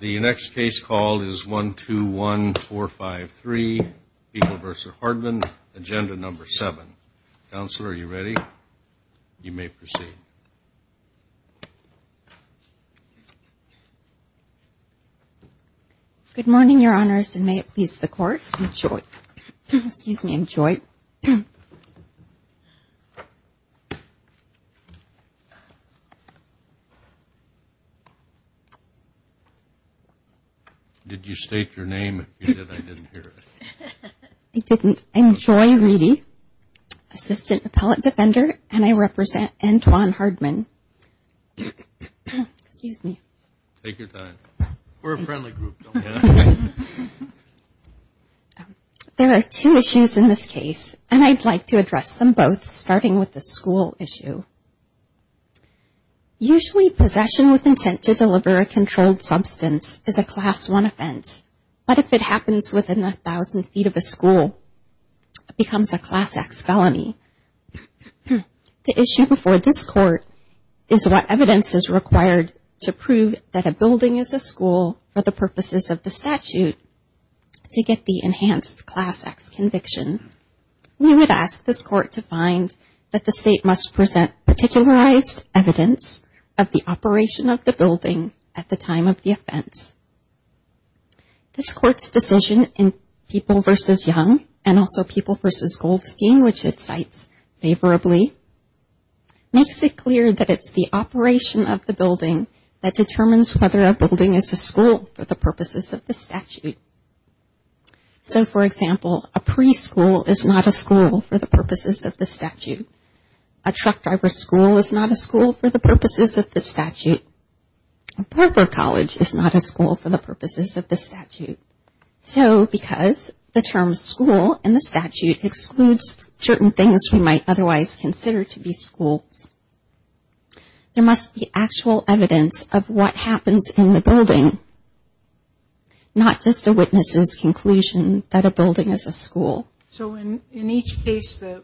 The next case call is 121453, Beeple v. Hardman, Agenda No. 7. Counsel, are you ready? You may proceed. Good morning, Your Honors, and may it please the Court, enjoy. Excuse me, enjoy. Did you state your name? If you did, I didn't hear it. I didn't. I'm Joy Reedy, Assistant Appellate Defender, and I represent Antwon Hardman. Excuse me. Take your time. We're a friendly group, don't we? There are two issues in this case, and I'd like to address them both, starting with the school issue. Usually, possession with intent to deliver a controlled substance is a Class I offense, but if it happens within 1,000 feet of a school, it becomes a Class X felony. The issue before this Court is what evidence is required to prove that a building is a school for the purposes of the statute to get the enhanced Class X conviction. We would ask this Court to find that the State must present particularized evidence of the operation of the building at the time of the offense. This Court's decision in Beeple v. Young, and also Beeple v. Goldstein, which it cites favorably, makes it clear that it's the operation of the building that determines whether a building is a school for the purposes of the statute. So, for example, a preschool is not a school for the purposes of the statute. A truck driver's school is not a school for the purposes of the statute. A park or college is not a school for the purposes of the statute. So, because the term school in the statute excludes certain things we might otherwise consider to be schools, there must be actual evidence of what happens in the building, not just a witness's conclusion that a building is a school. So, in each case, the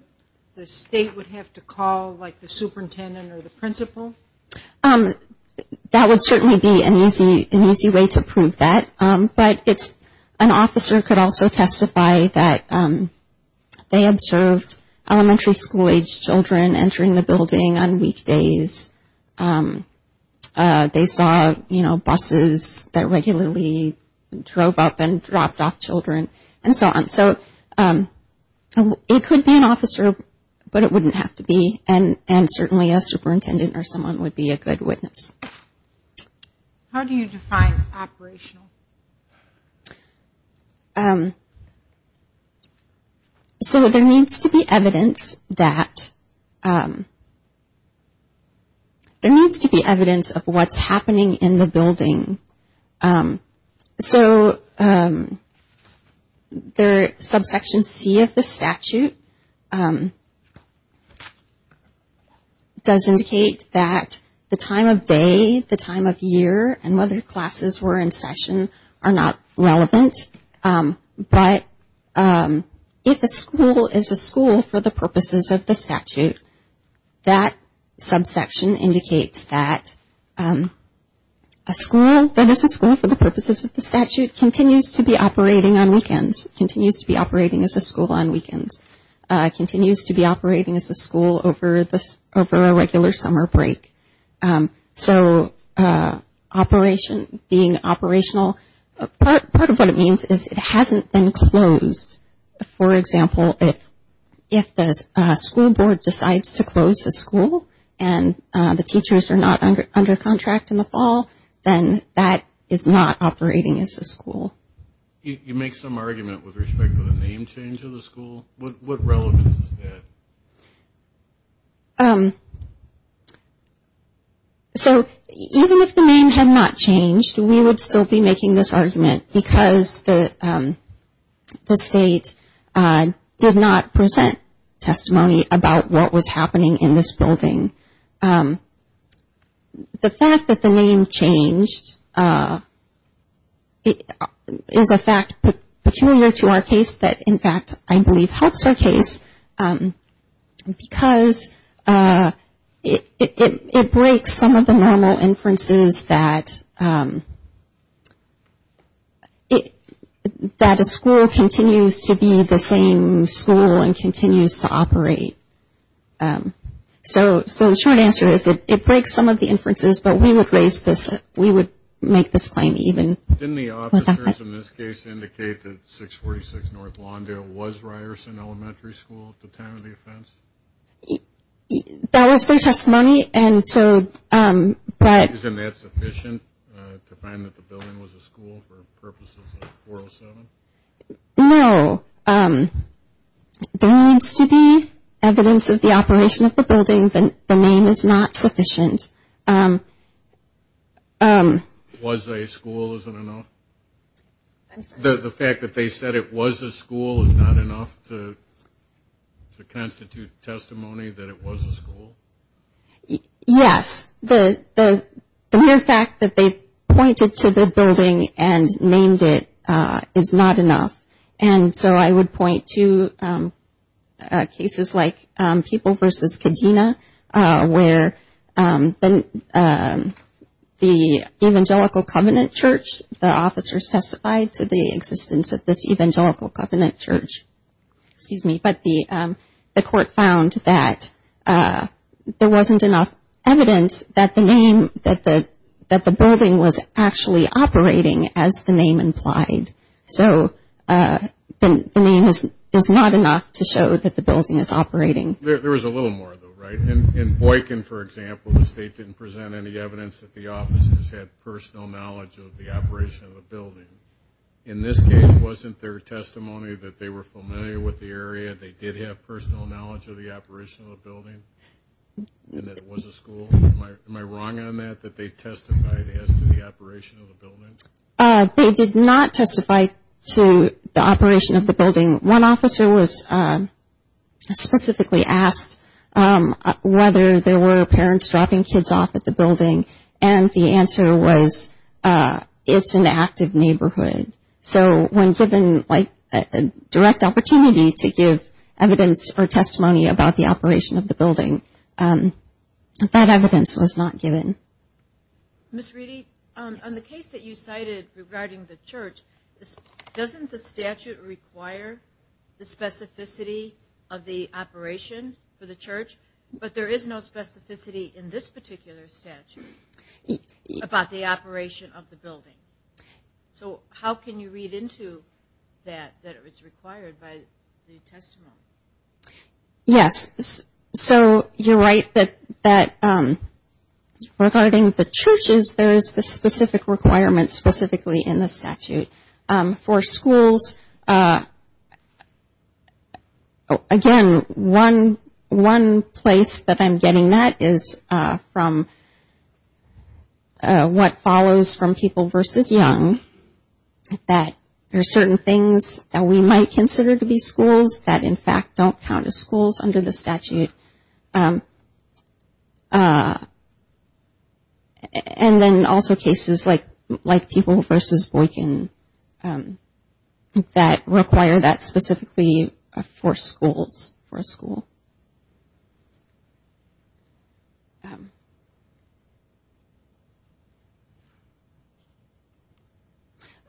State would have to call, like, the superintendent or the principal? That would certainly be an easy way to prove that. But an officer could also testify that they observed elementary school-age children entering the building on weekdays. They saw, you know, buses that regularly drove up and dropped off children, and so on. So, it could be an officer, but it wouldn't have to be, and certainly a superintendent or someone would be a good witness. How do you define operational? So, there needs to be evidence of what's happening in the building. So, subsection C of the statute does indicate that the time of day, the time of year, and whether classes were in session are not relevant. But if a school is a school for the purposes of the statute, that subsection indicates that a school that is a school for the purposes of the statute continues to be operating on weekends, continues to be operating as a school on weekends, continues to be operating as a school over a regular summer break. So, operation, being operational, part of what it means is it hasn't been closed. For example, if the school board decides to close the school and the teachers are not under contract in the fall, then that is not operating as a school. You make some argument with respect to the name change of the school. What relevance is that? So, even if the name had not changed, we would still be making this argument because the state did not present testimony about what was happening in this building. The fact that the name changed is a fact peculiar to our case that, in fact, I believe helps our case because it breaks some of the normal inferences that a school continues to be the same school and continues to operate. So, the short answer is it breaks some of the inferences, but we would make this claim even. Didn't the officers in this case indicate that 646 North Lawndale was Ryerson Elementary School at the time of the offense? That was their testimony. Isn't that sufficient to find that the building was a school for purposes of 407? No. There needs to be evidence of the operation of the building. The name is not sufficient. Was a school isn't enough? I'm sorry? The fact that they said it was a school is not enough to constitute testimony that it was a school? Yes. The mere fact that they pointed to the building and named it is not enough. And so I would point to cases like People v. Kadena where the Evangelical Covenant Church, the officers testified to the existence of this Evangelical Covenant Church, but the court found that there wasn't enough evidence that the name, that the building was actually operating as the name implied. So the name is not enough to show that the building is operating. There was a little more, though, right? In Boykin, for example, the state didn't present any evidence that the officers had personal knowledge of the operation of the building. In this case, wasn't their testimony that they were familiar with the area, they did have personal knowledge of the operation of the building, and that it was a school? Am I wrong on that, that they testified as to the operation of the building? They did not testify to the operation of the building. One officer was specifically asked whether there were parents dropping kids off at the building, and the answer was it's an active neighborhood. So when given a direct opportunity to give evidence or testimony about the operation of the building, that evidence was not given. Ms. Reedy, on the case that you cited regarding the church, doesn't the statute require the specificity of the operation for the church, but there is no specificity in this particular statute about the operation of the building? So how can you read into that, that it's required by the testimony? Yes, so you're right that regarding the churches, there is the specific requirement specifically in the statute. For schools, again, one place that I'm getting that is from what follows from people versus young, that there are certain things that we might consider to be schools that in fact don't count as schools under the statute. And then also cases like people versus Boykin that require that specifically for schools.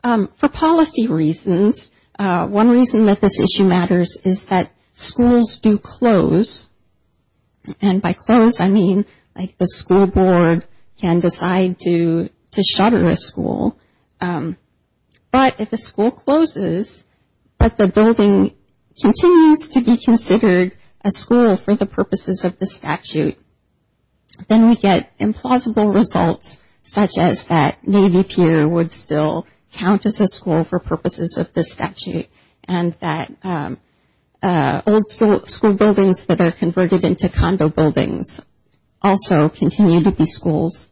For policy reasons, one reason that this issue matters is that schools do close, and by close I mean like the school board can decide to shutter a school. But if a school closes but the building continues to be considered a school for the purposes of the statute, then we get implausible results such as that Navy Pier would still count as a school for purposes of the statute, and that old school buildings that are converted into condo buildings also continue to be schools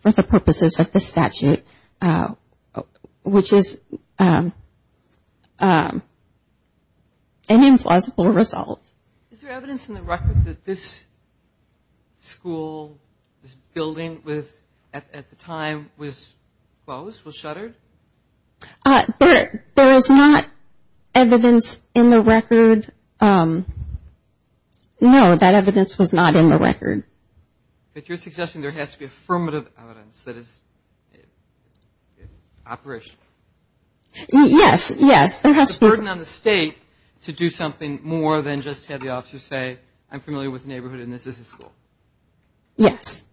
for the purposes of the statute, which is an implausible result. Is there evidence in the record that this school, this building at the time was closed, was shuttered? There is not evidence in the record. No, that evidence was not in the record. But you're suggesting there has to be affirmative evidence that it's operational? Yes, yes, there has to be. It wasn't on the state to do something more than just have the officer say, I'm familiar with the neighborhood and this is a school. Yes.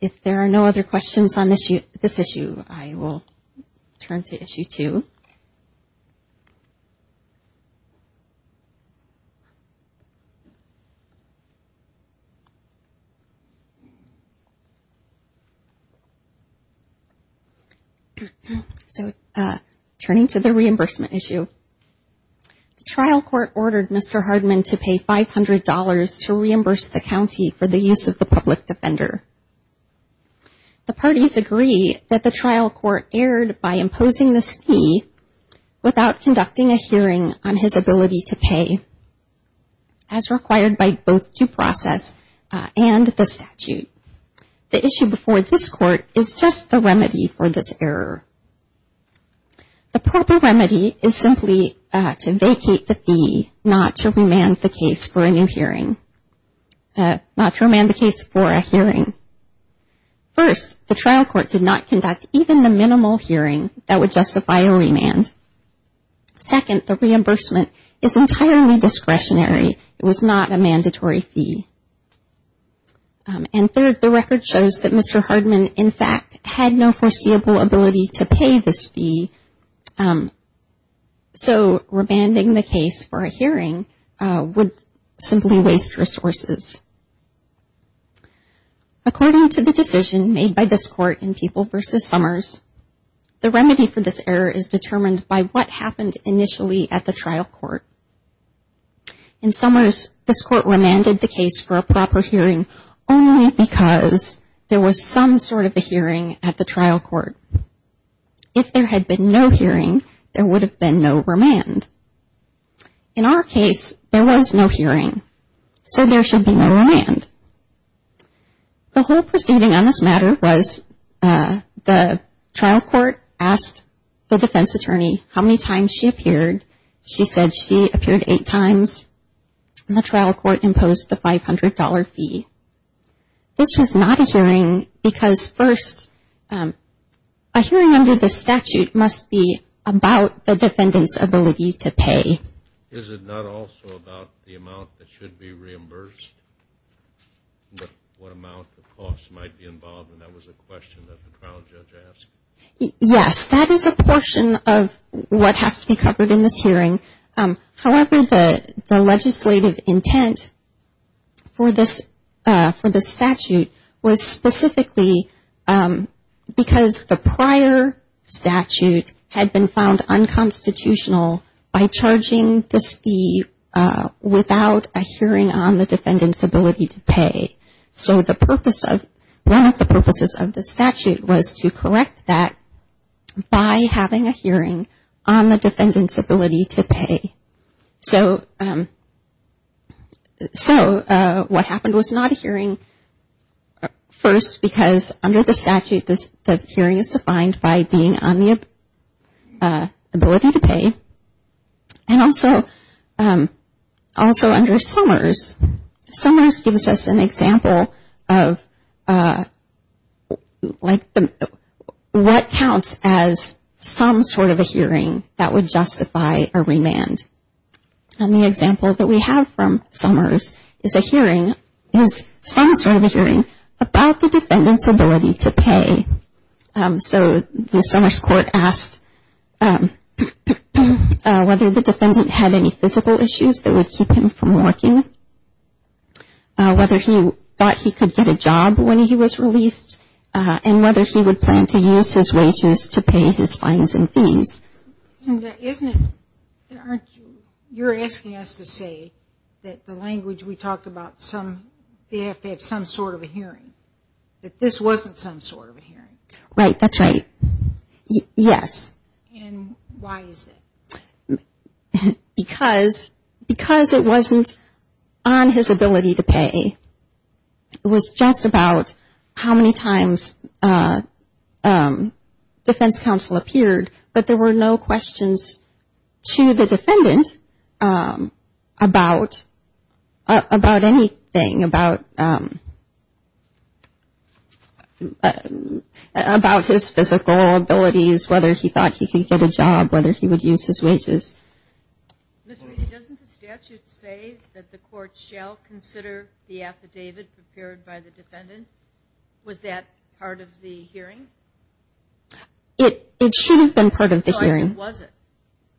If there are no other questions on this issue, I will turn to issue two. So, turning to the reimbursement issue. The trial court ordered Mr. Hardman to pay $500 to reimburse the county for the use of the public defender. The parties agree that the trial court erred by imposing this fee without conducting a hearing on his ability to pay, as required by both due process and the statute. The issue before this court is just the remedy for this error. The proper remedy is simply to vacate the fee, not to remand the case for a hearing. First, the trial court did not conduct even the minimal hearing that would justify a remand. Second, the reimbursement is entirely discretionary. It was not a mandatory fee. And third, the record shows that Mr. Hardman, in fact, had no foreseeable ability to pay this fee. So, remanding the case for a hearing would simply waste resources. According to the decision made by this court in People v. Summers, the remedy for this error is determined by what happened initially at the trial court. In Summers, this court remanded the case for a proper hearing only because there was some sort of a hearing at the trial court. If there had been no hearing, there would have been no remand. In our case, there was no hearing, so there should be no remand. The whole proceeding on this matter was the trial court asked the defense attorney how many times she appeared. She said she appeared eight times. And the trial court imposed the $500 fee. This was not a hearing because, first, a hearing under the statute must be about the defendant's ability to pay. Is it not also about the amount that should be reimbursed, what amount the cost might be involved? And that was a question that the trial judge asked. Yes, that is a portion of what has to be covered in this hearing. However, the legislative intent for this statute was specifically because the prior statute had been found unconstitutional by charging this fee without a hearing on the defendant's ability to pay. So one of the purposes of the statute was to correct that by having a hearing on the defendant's ability to pay. So what happened was not a hearing, first, because under the statute, the hearing is defined by being on the ability to pay. And also under Summers, Summers gives us an example of what counts as some sort of a hearing that would justify a remand. And the example that we have from Summers is some sort of a hearing about the defendant's ability to pay. So the Summers court asked whether the defendant had any physical issues that would keep him from working, whether he thought he could get a job when he was released, and whether he would plan to use his wages to pay his fines and fees. Isn't it that you're asking us to say that the language we talk about, they have to have some sort of a hearing, that this wasn't some sort of a hearing? Right, that's right. Yes. And why is that? Because it wasn't on his ability to pay. It was just about how many times defense counsel appeared, but there were no questions to the defendant about anything, about his physical abilities, whether he thought he could get a job, whether he would use his wages. Ms. Weedy, doesn't the statute say that the court shall consider the affidavit prepared by the defendant? Was that part of the hearing? It should have been part of the hearing. Or was it?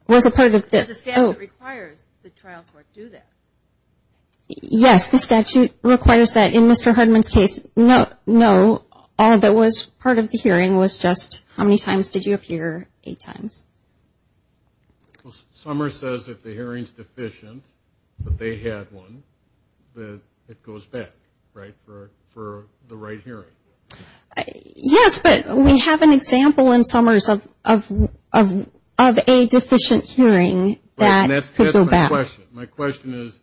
Does the statute require the trial court to do that? Yes, the statute requires that. In Mr. Hudman's case, no, all of it was part of the hearing, the hearing was just how many times did you appear, eight times. Summer says if the hearing's deficient, that they had one, that it goes back, right, for the right hearing. Yes, but we have an example in Summers of a deficient hearing that could go back. My question is,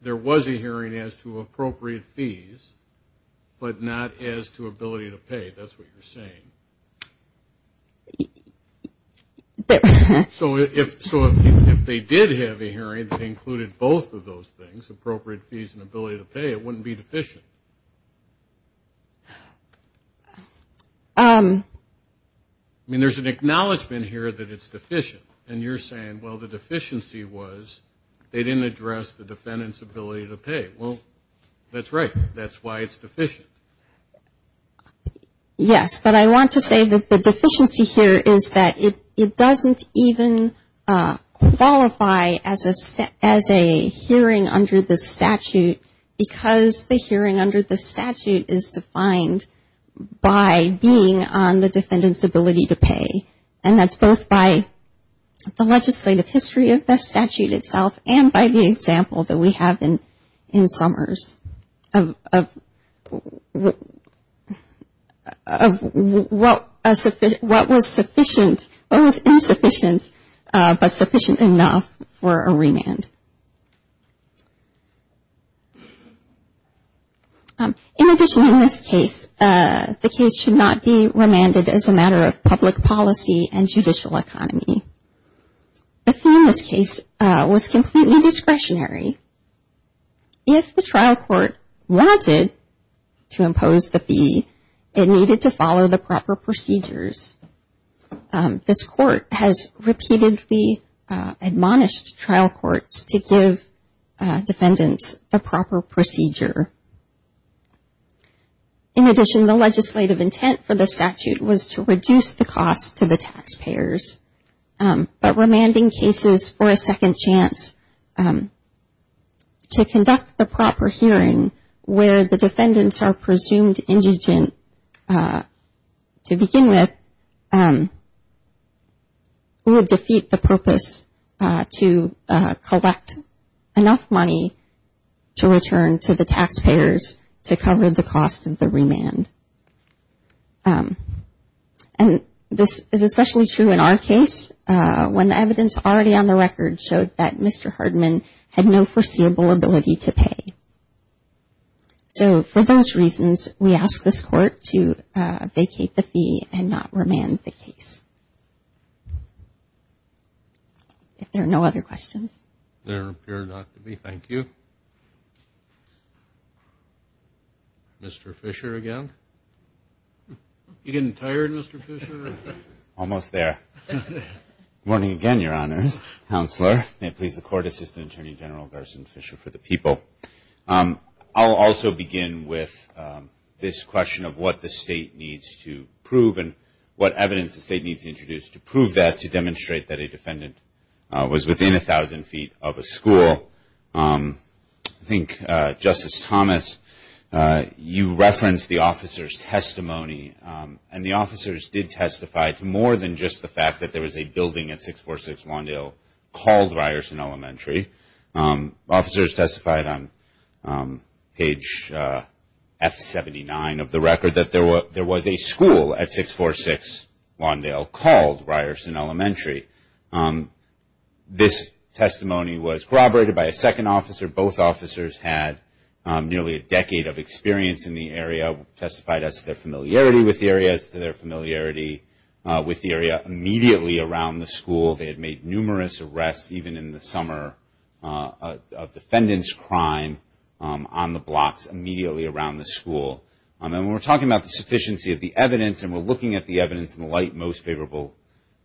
there was a hearing as to appropriate fees, but not as to ability to pay. That's what you're saying. So if they did have a hearing that included both of those things, appropriate fees and ability to pay, it wouldn't be deficient. I mean, there's an acknowledgment here that it's deficient, and you're saying, well, the deficiency was they didn't address the defendant's ability to pay. Well, that's right, that's why it's deficient. Yes, but I want to say that the deficiency here is that it doesn't even qualify as a hearing under the statute because the hearing under the statute is defined by being on the defendant's ability to pay. And that's both by the legislative history of the statute itself and by the example that we have in Summers of what was insufficient but sufficient enough for a remand. In addition, in this case, the case should not be remanded as a matter of public policy and judicial economy. The fee in this case was completely discretionary. If the trial court wanted to impose the fee, it needed to follow the proper procedures. This court has repeatedly admonished trial courts to give defendants the proper procedure. In addition, the legislative intent for the statute was to reduce the cost to the taxpayers, but remanding cases for a second chance to conduct the proper hearing where the defendants are presumed indigent, to begin with, would defeat the purpose to collect enough money to return to the taxpayers to cover the cost of the remand. And this is especially true in our case when the evidence already on the record showed that Mr. Hardman had no foreseeable ability to pay. So for those reasons, we ask this court to vacate the fee and not remand the case. If there are no other questions. Mr. Fisher again. You getting tired, Mr. Fisher? Almost there. I'll also begin with this question of what the state needs to prove and what evidence the state needs to introduce to prove that, to demonstrate that a defendant was within 1,000 feet of a school. I think, Justice Thomas, you referenced the officer's testimony. And the officers did testify to more than just the fact that there was a building at 646 Lawndale called Ryerson Elementary. Officers testified on page F79 of the record that there was a school at 646 Lawndale called Ryerson Elementary. This testimony was corroborated by a second officer. Both officers had nearly a decade of experience in the area, testified as to their familiarity with the area, as to their familiarity with the area immediately around the school. They had made numerous arrests even in the summer of defendant's crime on the blocks immediately around the school. And when we're talking about the sufficiency of the evidence and we're looking at the evidence in the light most favorable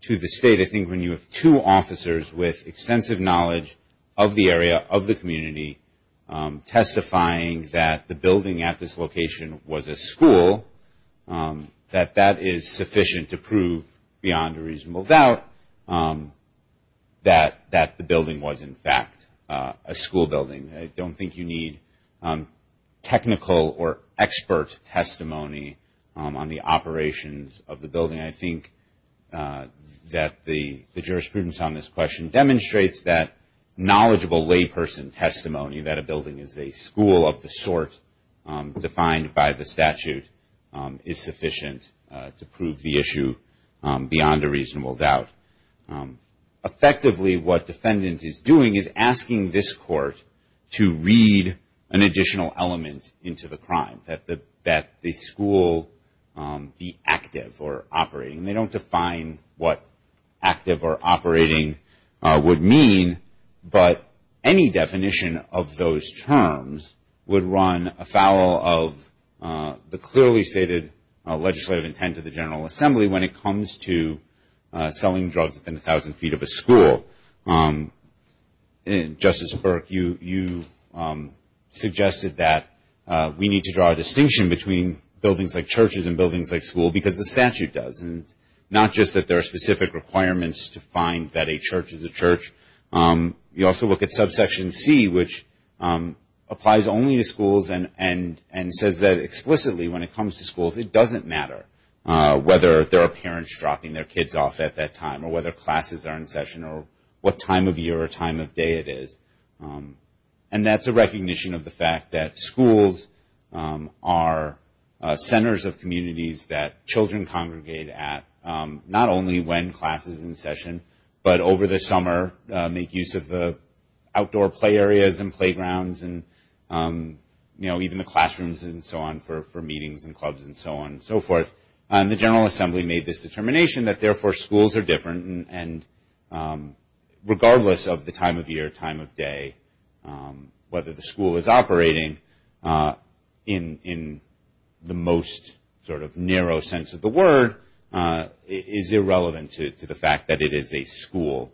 to the state, I think when you have two officers with extensive knowledge of the area, of the community, testifying that the building at this location was a school, that that is sufficient to prove beyond a reasonable doubt that the building was in fact a school building. When we look at the expert testimony on the operations of the building, I think that the jurisprudence on this question demonstrates that knowledgeable layperson testimony that a building is a school of the sort defined by the statute is sufficient to prove the issue beyond a reasonable doubt. Effectively what defendant is doing is asking this court to read an additional element into the crime, that the school be active or operating. They don't define what active or operating would mean, but any definition of those terms would run afoul of the clearly stated legislative intent of the General Assembly when it comes to selling drugs within 1,000 feet of a school. Justice Burke, you suggested that we need to draw a distinction between buildings like churches and buildings like school because the statute does, and not just that there are specific requirements to find that a church is a church. You also look at subsection C, which applies only to schools and says that explicitly when it comes to schools it doesn't matter whether there are parents dropping their kids off at that time or whether classes are in session or what time of year or time of day it is. And that's a recognition of the fact that schools are centers of communities that children congregate at, not only when class is in session, but over the summer make use of the outdoor play areas and so on for meetings and clubs and so on and so forth. And the General Assembly made this determination that therefore schools are different and regardless of the time of year, time of day, whether the school is operating in the most sort of narrow sense of the word, is irrelevant to the fact that it is a school.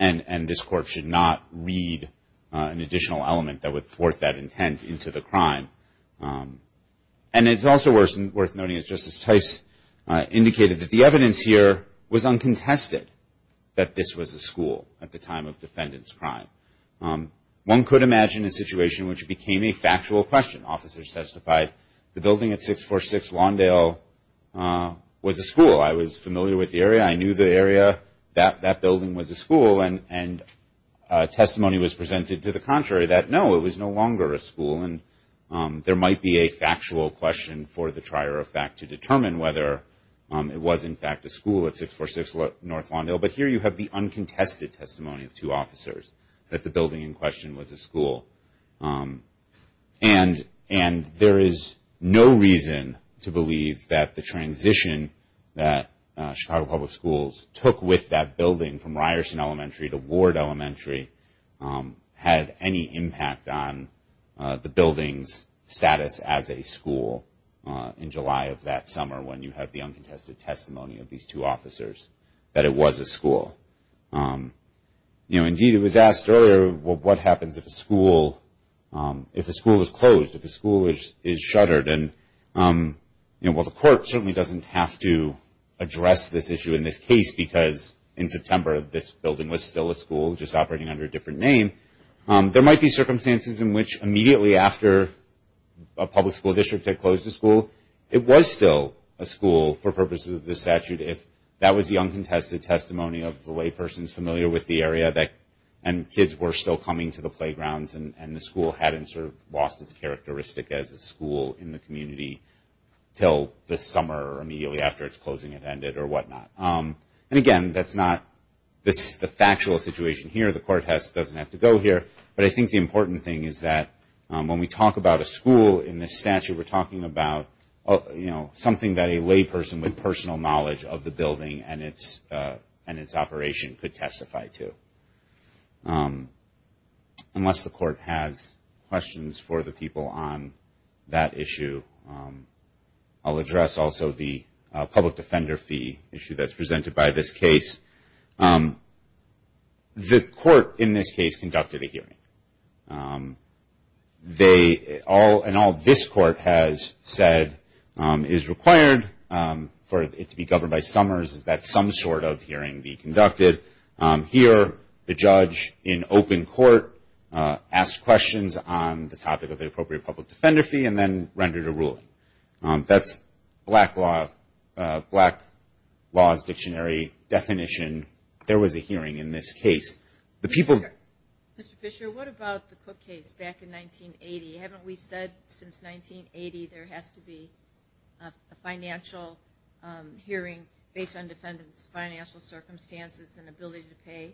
And this court should not read an additional element that would thwart that intent and intent into the crime. And it's also worth noting that Justice Tice indicated that the evidence here was uncontested that this was a school at the time of defendant's crime. One could imagine a situation which became a factual question. Officers testified the building at 646 Lawndale was a school. I was familiar with the area. I knew the area. That building was a school and testimony was that the building was a school. And there might be a factual question for the trier of fact to determine whether it was in fact a school at 646 North Lawndale. But here you have the uncontested testimony of two officers that the building in question was a school. And there is no reason to believe that the transition that Chicago Public Schools took with that building from Ryerson Elementary to Ward Elementary had any impact on the building's status as a school in July of that summer when you have the uncontested testimony of these two officers that it was a school. Indeed it was asked earlier what happens if a school is closed, if a school is shuttered. And the court certainly doesn't have to address this issue in this case because in September this building was still a school just operating under a different name. There might be circumstances in which immediately after a public school district had closed the school it was still a school for purposes of the statute if that was the uncontested testimony of the lay person familiar with the area and kids were still coming to the playgrounds and the school hadn't sort of lost its characteristic as a school in the community until the summer or immediately after its closing it ended or whatnot. And again that's not the factual situation here. The court doesn't have to go here. But I think the important thing is that when we talk about a school in this statute we're talking about something that a lay person with personal knowledge of the building and its operation could testify to. Unless the court has questions for the people on that issue I'll address also the public defender fee issue that's presented by this case. The court in this case conducted a hearing. And all this court has said is required for it to be governed by summers is that some sort of hearing be conducted. Here the judge in open court asked questions on the appropriate public defender fee and then rendered a ruling. That's black law's dictionary definition. There was a hearing in this case. The people. Ms. Fisher, what about the Cook case back in 1980? Haven't we said since 1980 there has to be a financial hearing based on defendants' financial circumstances and ability to pay?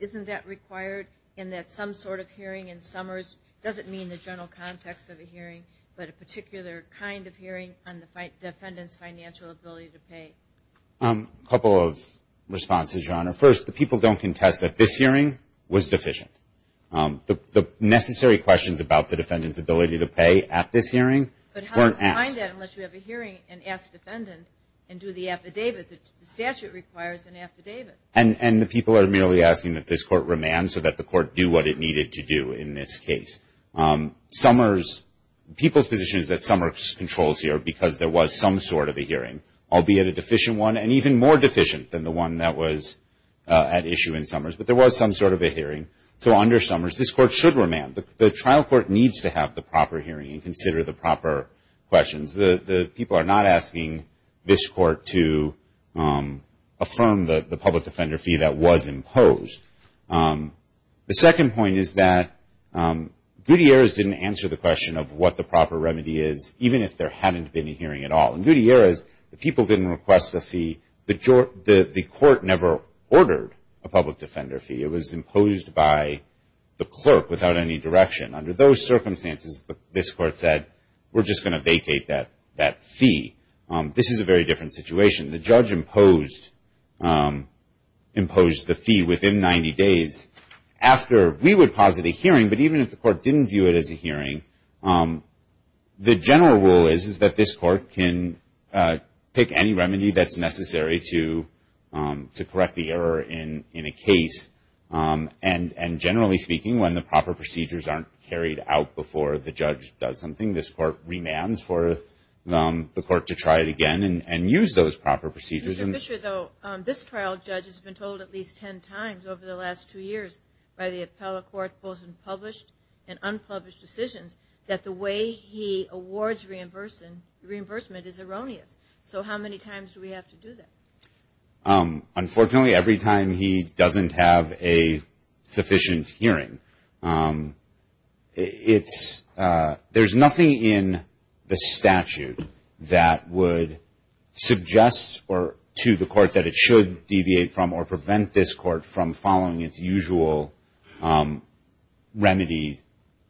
Isn't that required in that some sort of hearing in summers doesn't mean the general public defender fee issue? A couple of responses, Your Honor. First, the people don't contest that this hearing was deficient. The necessary questions about the defendant's ability to pay at this hearing weren't asked. But how do you find that unless you have a hearing and ask the defendant and do the affidavit? The statute requires an affidavit. And the people are merely asking that this court remand so that the court do what it needed to do in this case. People's position is that summers controls here because there was some sort of a hearing, albeit a deficient one and even more deficient than the one that was at issue in summers. But there was some sort of a hearing. So under summers this court should remand. The trial court needs to have the proper hearing and consider the proper questions. The people are not asking this court to affirm the public defender fee. The trial court is asking the court to affirm the public defender fee that was imposed. The second point is that Gutierrez didn't answer the question of what the proper remedy is, even if there hadn't been a hearing at all. In Gutierrez, the people didn't request a fee. The court never ordered a public defender fee. It was imposed by the clerk without any direction. Under those circumstances, this court said, we're just going to impose the fee within 90 days after we would posit a hearing. But even if the court didn't view it as a hearing, the general rule is that this court can pick any remedy that's necessary to correct the error in a case. And generally speaking, when the proper procedures aren't carried out before the judge does something, this court remands for the court to try it again and use those proper procedures. Mr. Fischer, though, this trial judge has been told at least 10 times over the last two years by the appellate court, both in published and unpublished decisions, that the way he awards reimbursement is erroneous. So how many times do we have to do that? Unfortunately, every time he doesn't have a sufficient hearing. There's nothing in the statute that would suggest or require a hearing to the court that it should deviate from or prevent this court from following its usual remedy,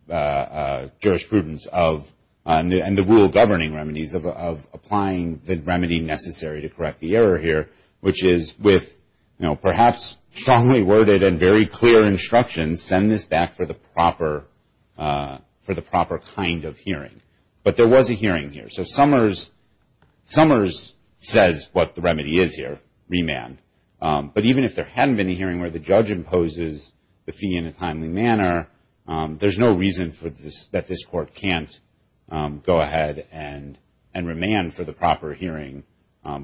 jurisprudence, and the rule governing remedies of applying the remedy necessary to correct the error here, which is with, you know, perhaps strongly worded and very clear instructions, send this back for the proper kind of hearing. But there was a hearing here. So Summers says what the remedy is here, remand. But even if there hadn't been a hearing where the judge imposes the fee in a timely manner, there's no reason for this, that this court can't go ahead and remand for the proper hearing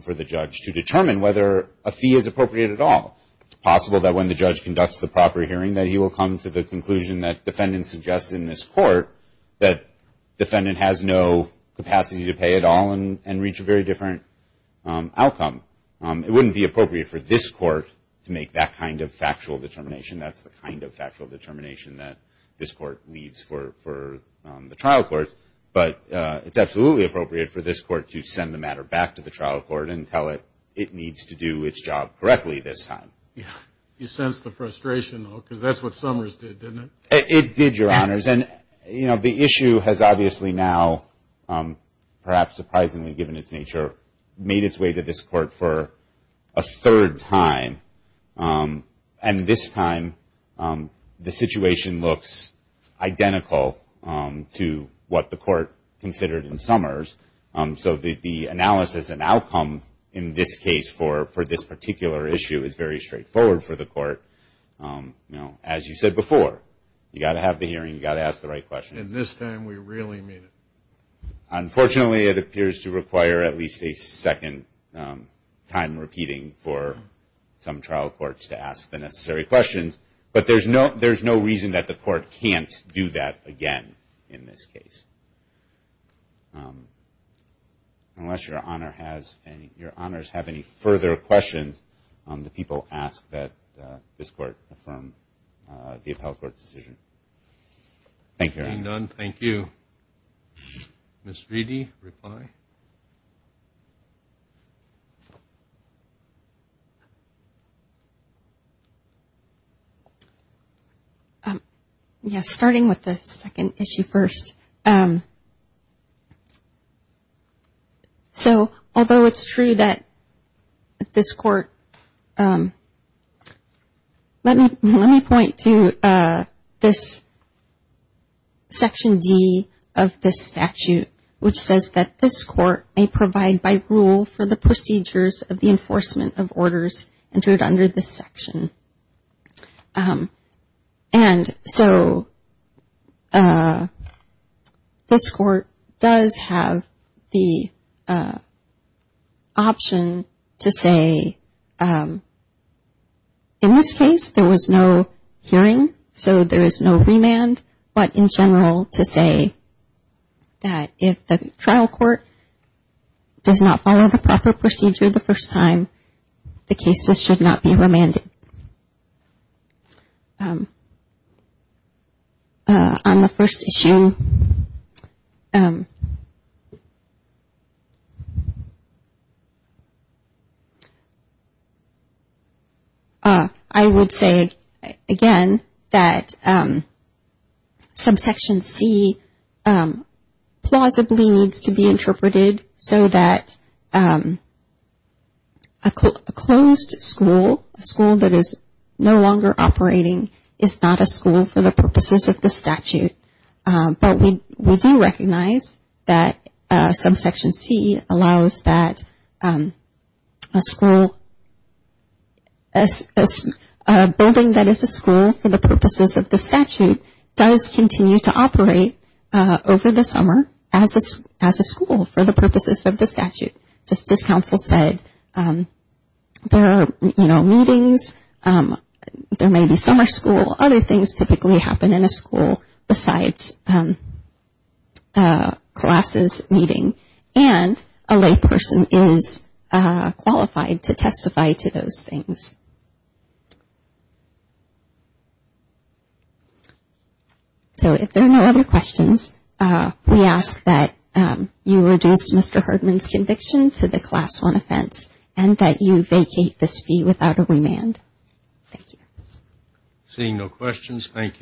for the judge to determine whether a fee is appropriate at all. It's possible that when the judge conducts the proper hearing that he will come to the conclusion that the defendant has no capacity to pay at all and reach a very different outcome. It wouldn't be appropriate for this court to make that kind of factual determination. That's the kind of factual determination that this court leaves for the trial court. But it's absolutely appropriate for this court to send the matter back to the trial court and tell it it needs to do its job correctly this time. You sense the frustration, though, because that's what Summers did, didn't it? It did, Your Honors. And, you know, the issue has obviously now, perhaps surprisingly given its nature, made its way to this court for a third time. And this time the situation looks identical to what the court considered in Summers. So the analysis and outcome in this case for this particular issue is very straightforward for the court. You know, as you said before, you've got to have the hearing, you've got to ask the right questions. And this time we really mean it. Unfortunately, it appears to require at least a second time repeating for some trial courts to ask the necessary questions. But there's no reason that the court can't do that again in this case, unless Your Honors have any questions. And if you have any further questions, the people ask that this court affirm the appellate court's decision. Thank you. Thank you. Ms. Reedy, reply. Yes, starting with the second issue first. So, although it's true that this court, let me point to this Section D of this statute, which says that this court may provide by rule for the procedures of the enforcement of orders entered under this section. And so, this court may provide by rule for the procedures of the enforcement of orders entered under this section. This court does have the option to say, in this case, there was no hearing, so there is no remand, but in general to say that if the trial court does not follow the proper procedure the first time, the case should not be remanded. I would say, again, that some Section C plausibly needs to be interpreted so that a closed school, a school that is no longer operating, is not a school for the purposes of the statute. But we do recognize that some Section C allows that a school, a building that is a school for the purposes of the statute does continue to operate over the summer as a school for the purposes of the statute. Just as counsel said, there are, you know, meetings, there may be summer school, other things typically happen in a school besides classes meeting, and a layperson is qualified to testify to those things. So, if there are no other questions, we ask that you reduce Mr. Hardman's conviction to the Class I offense and that you vacate this fee without a remand. Thank you.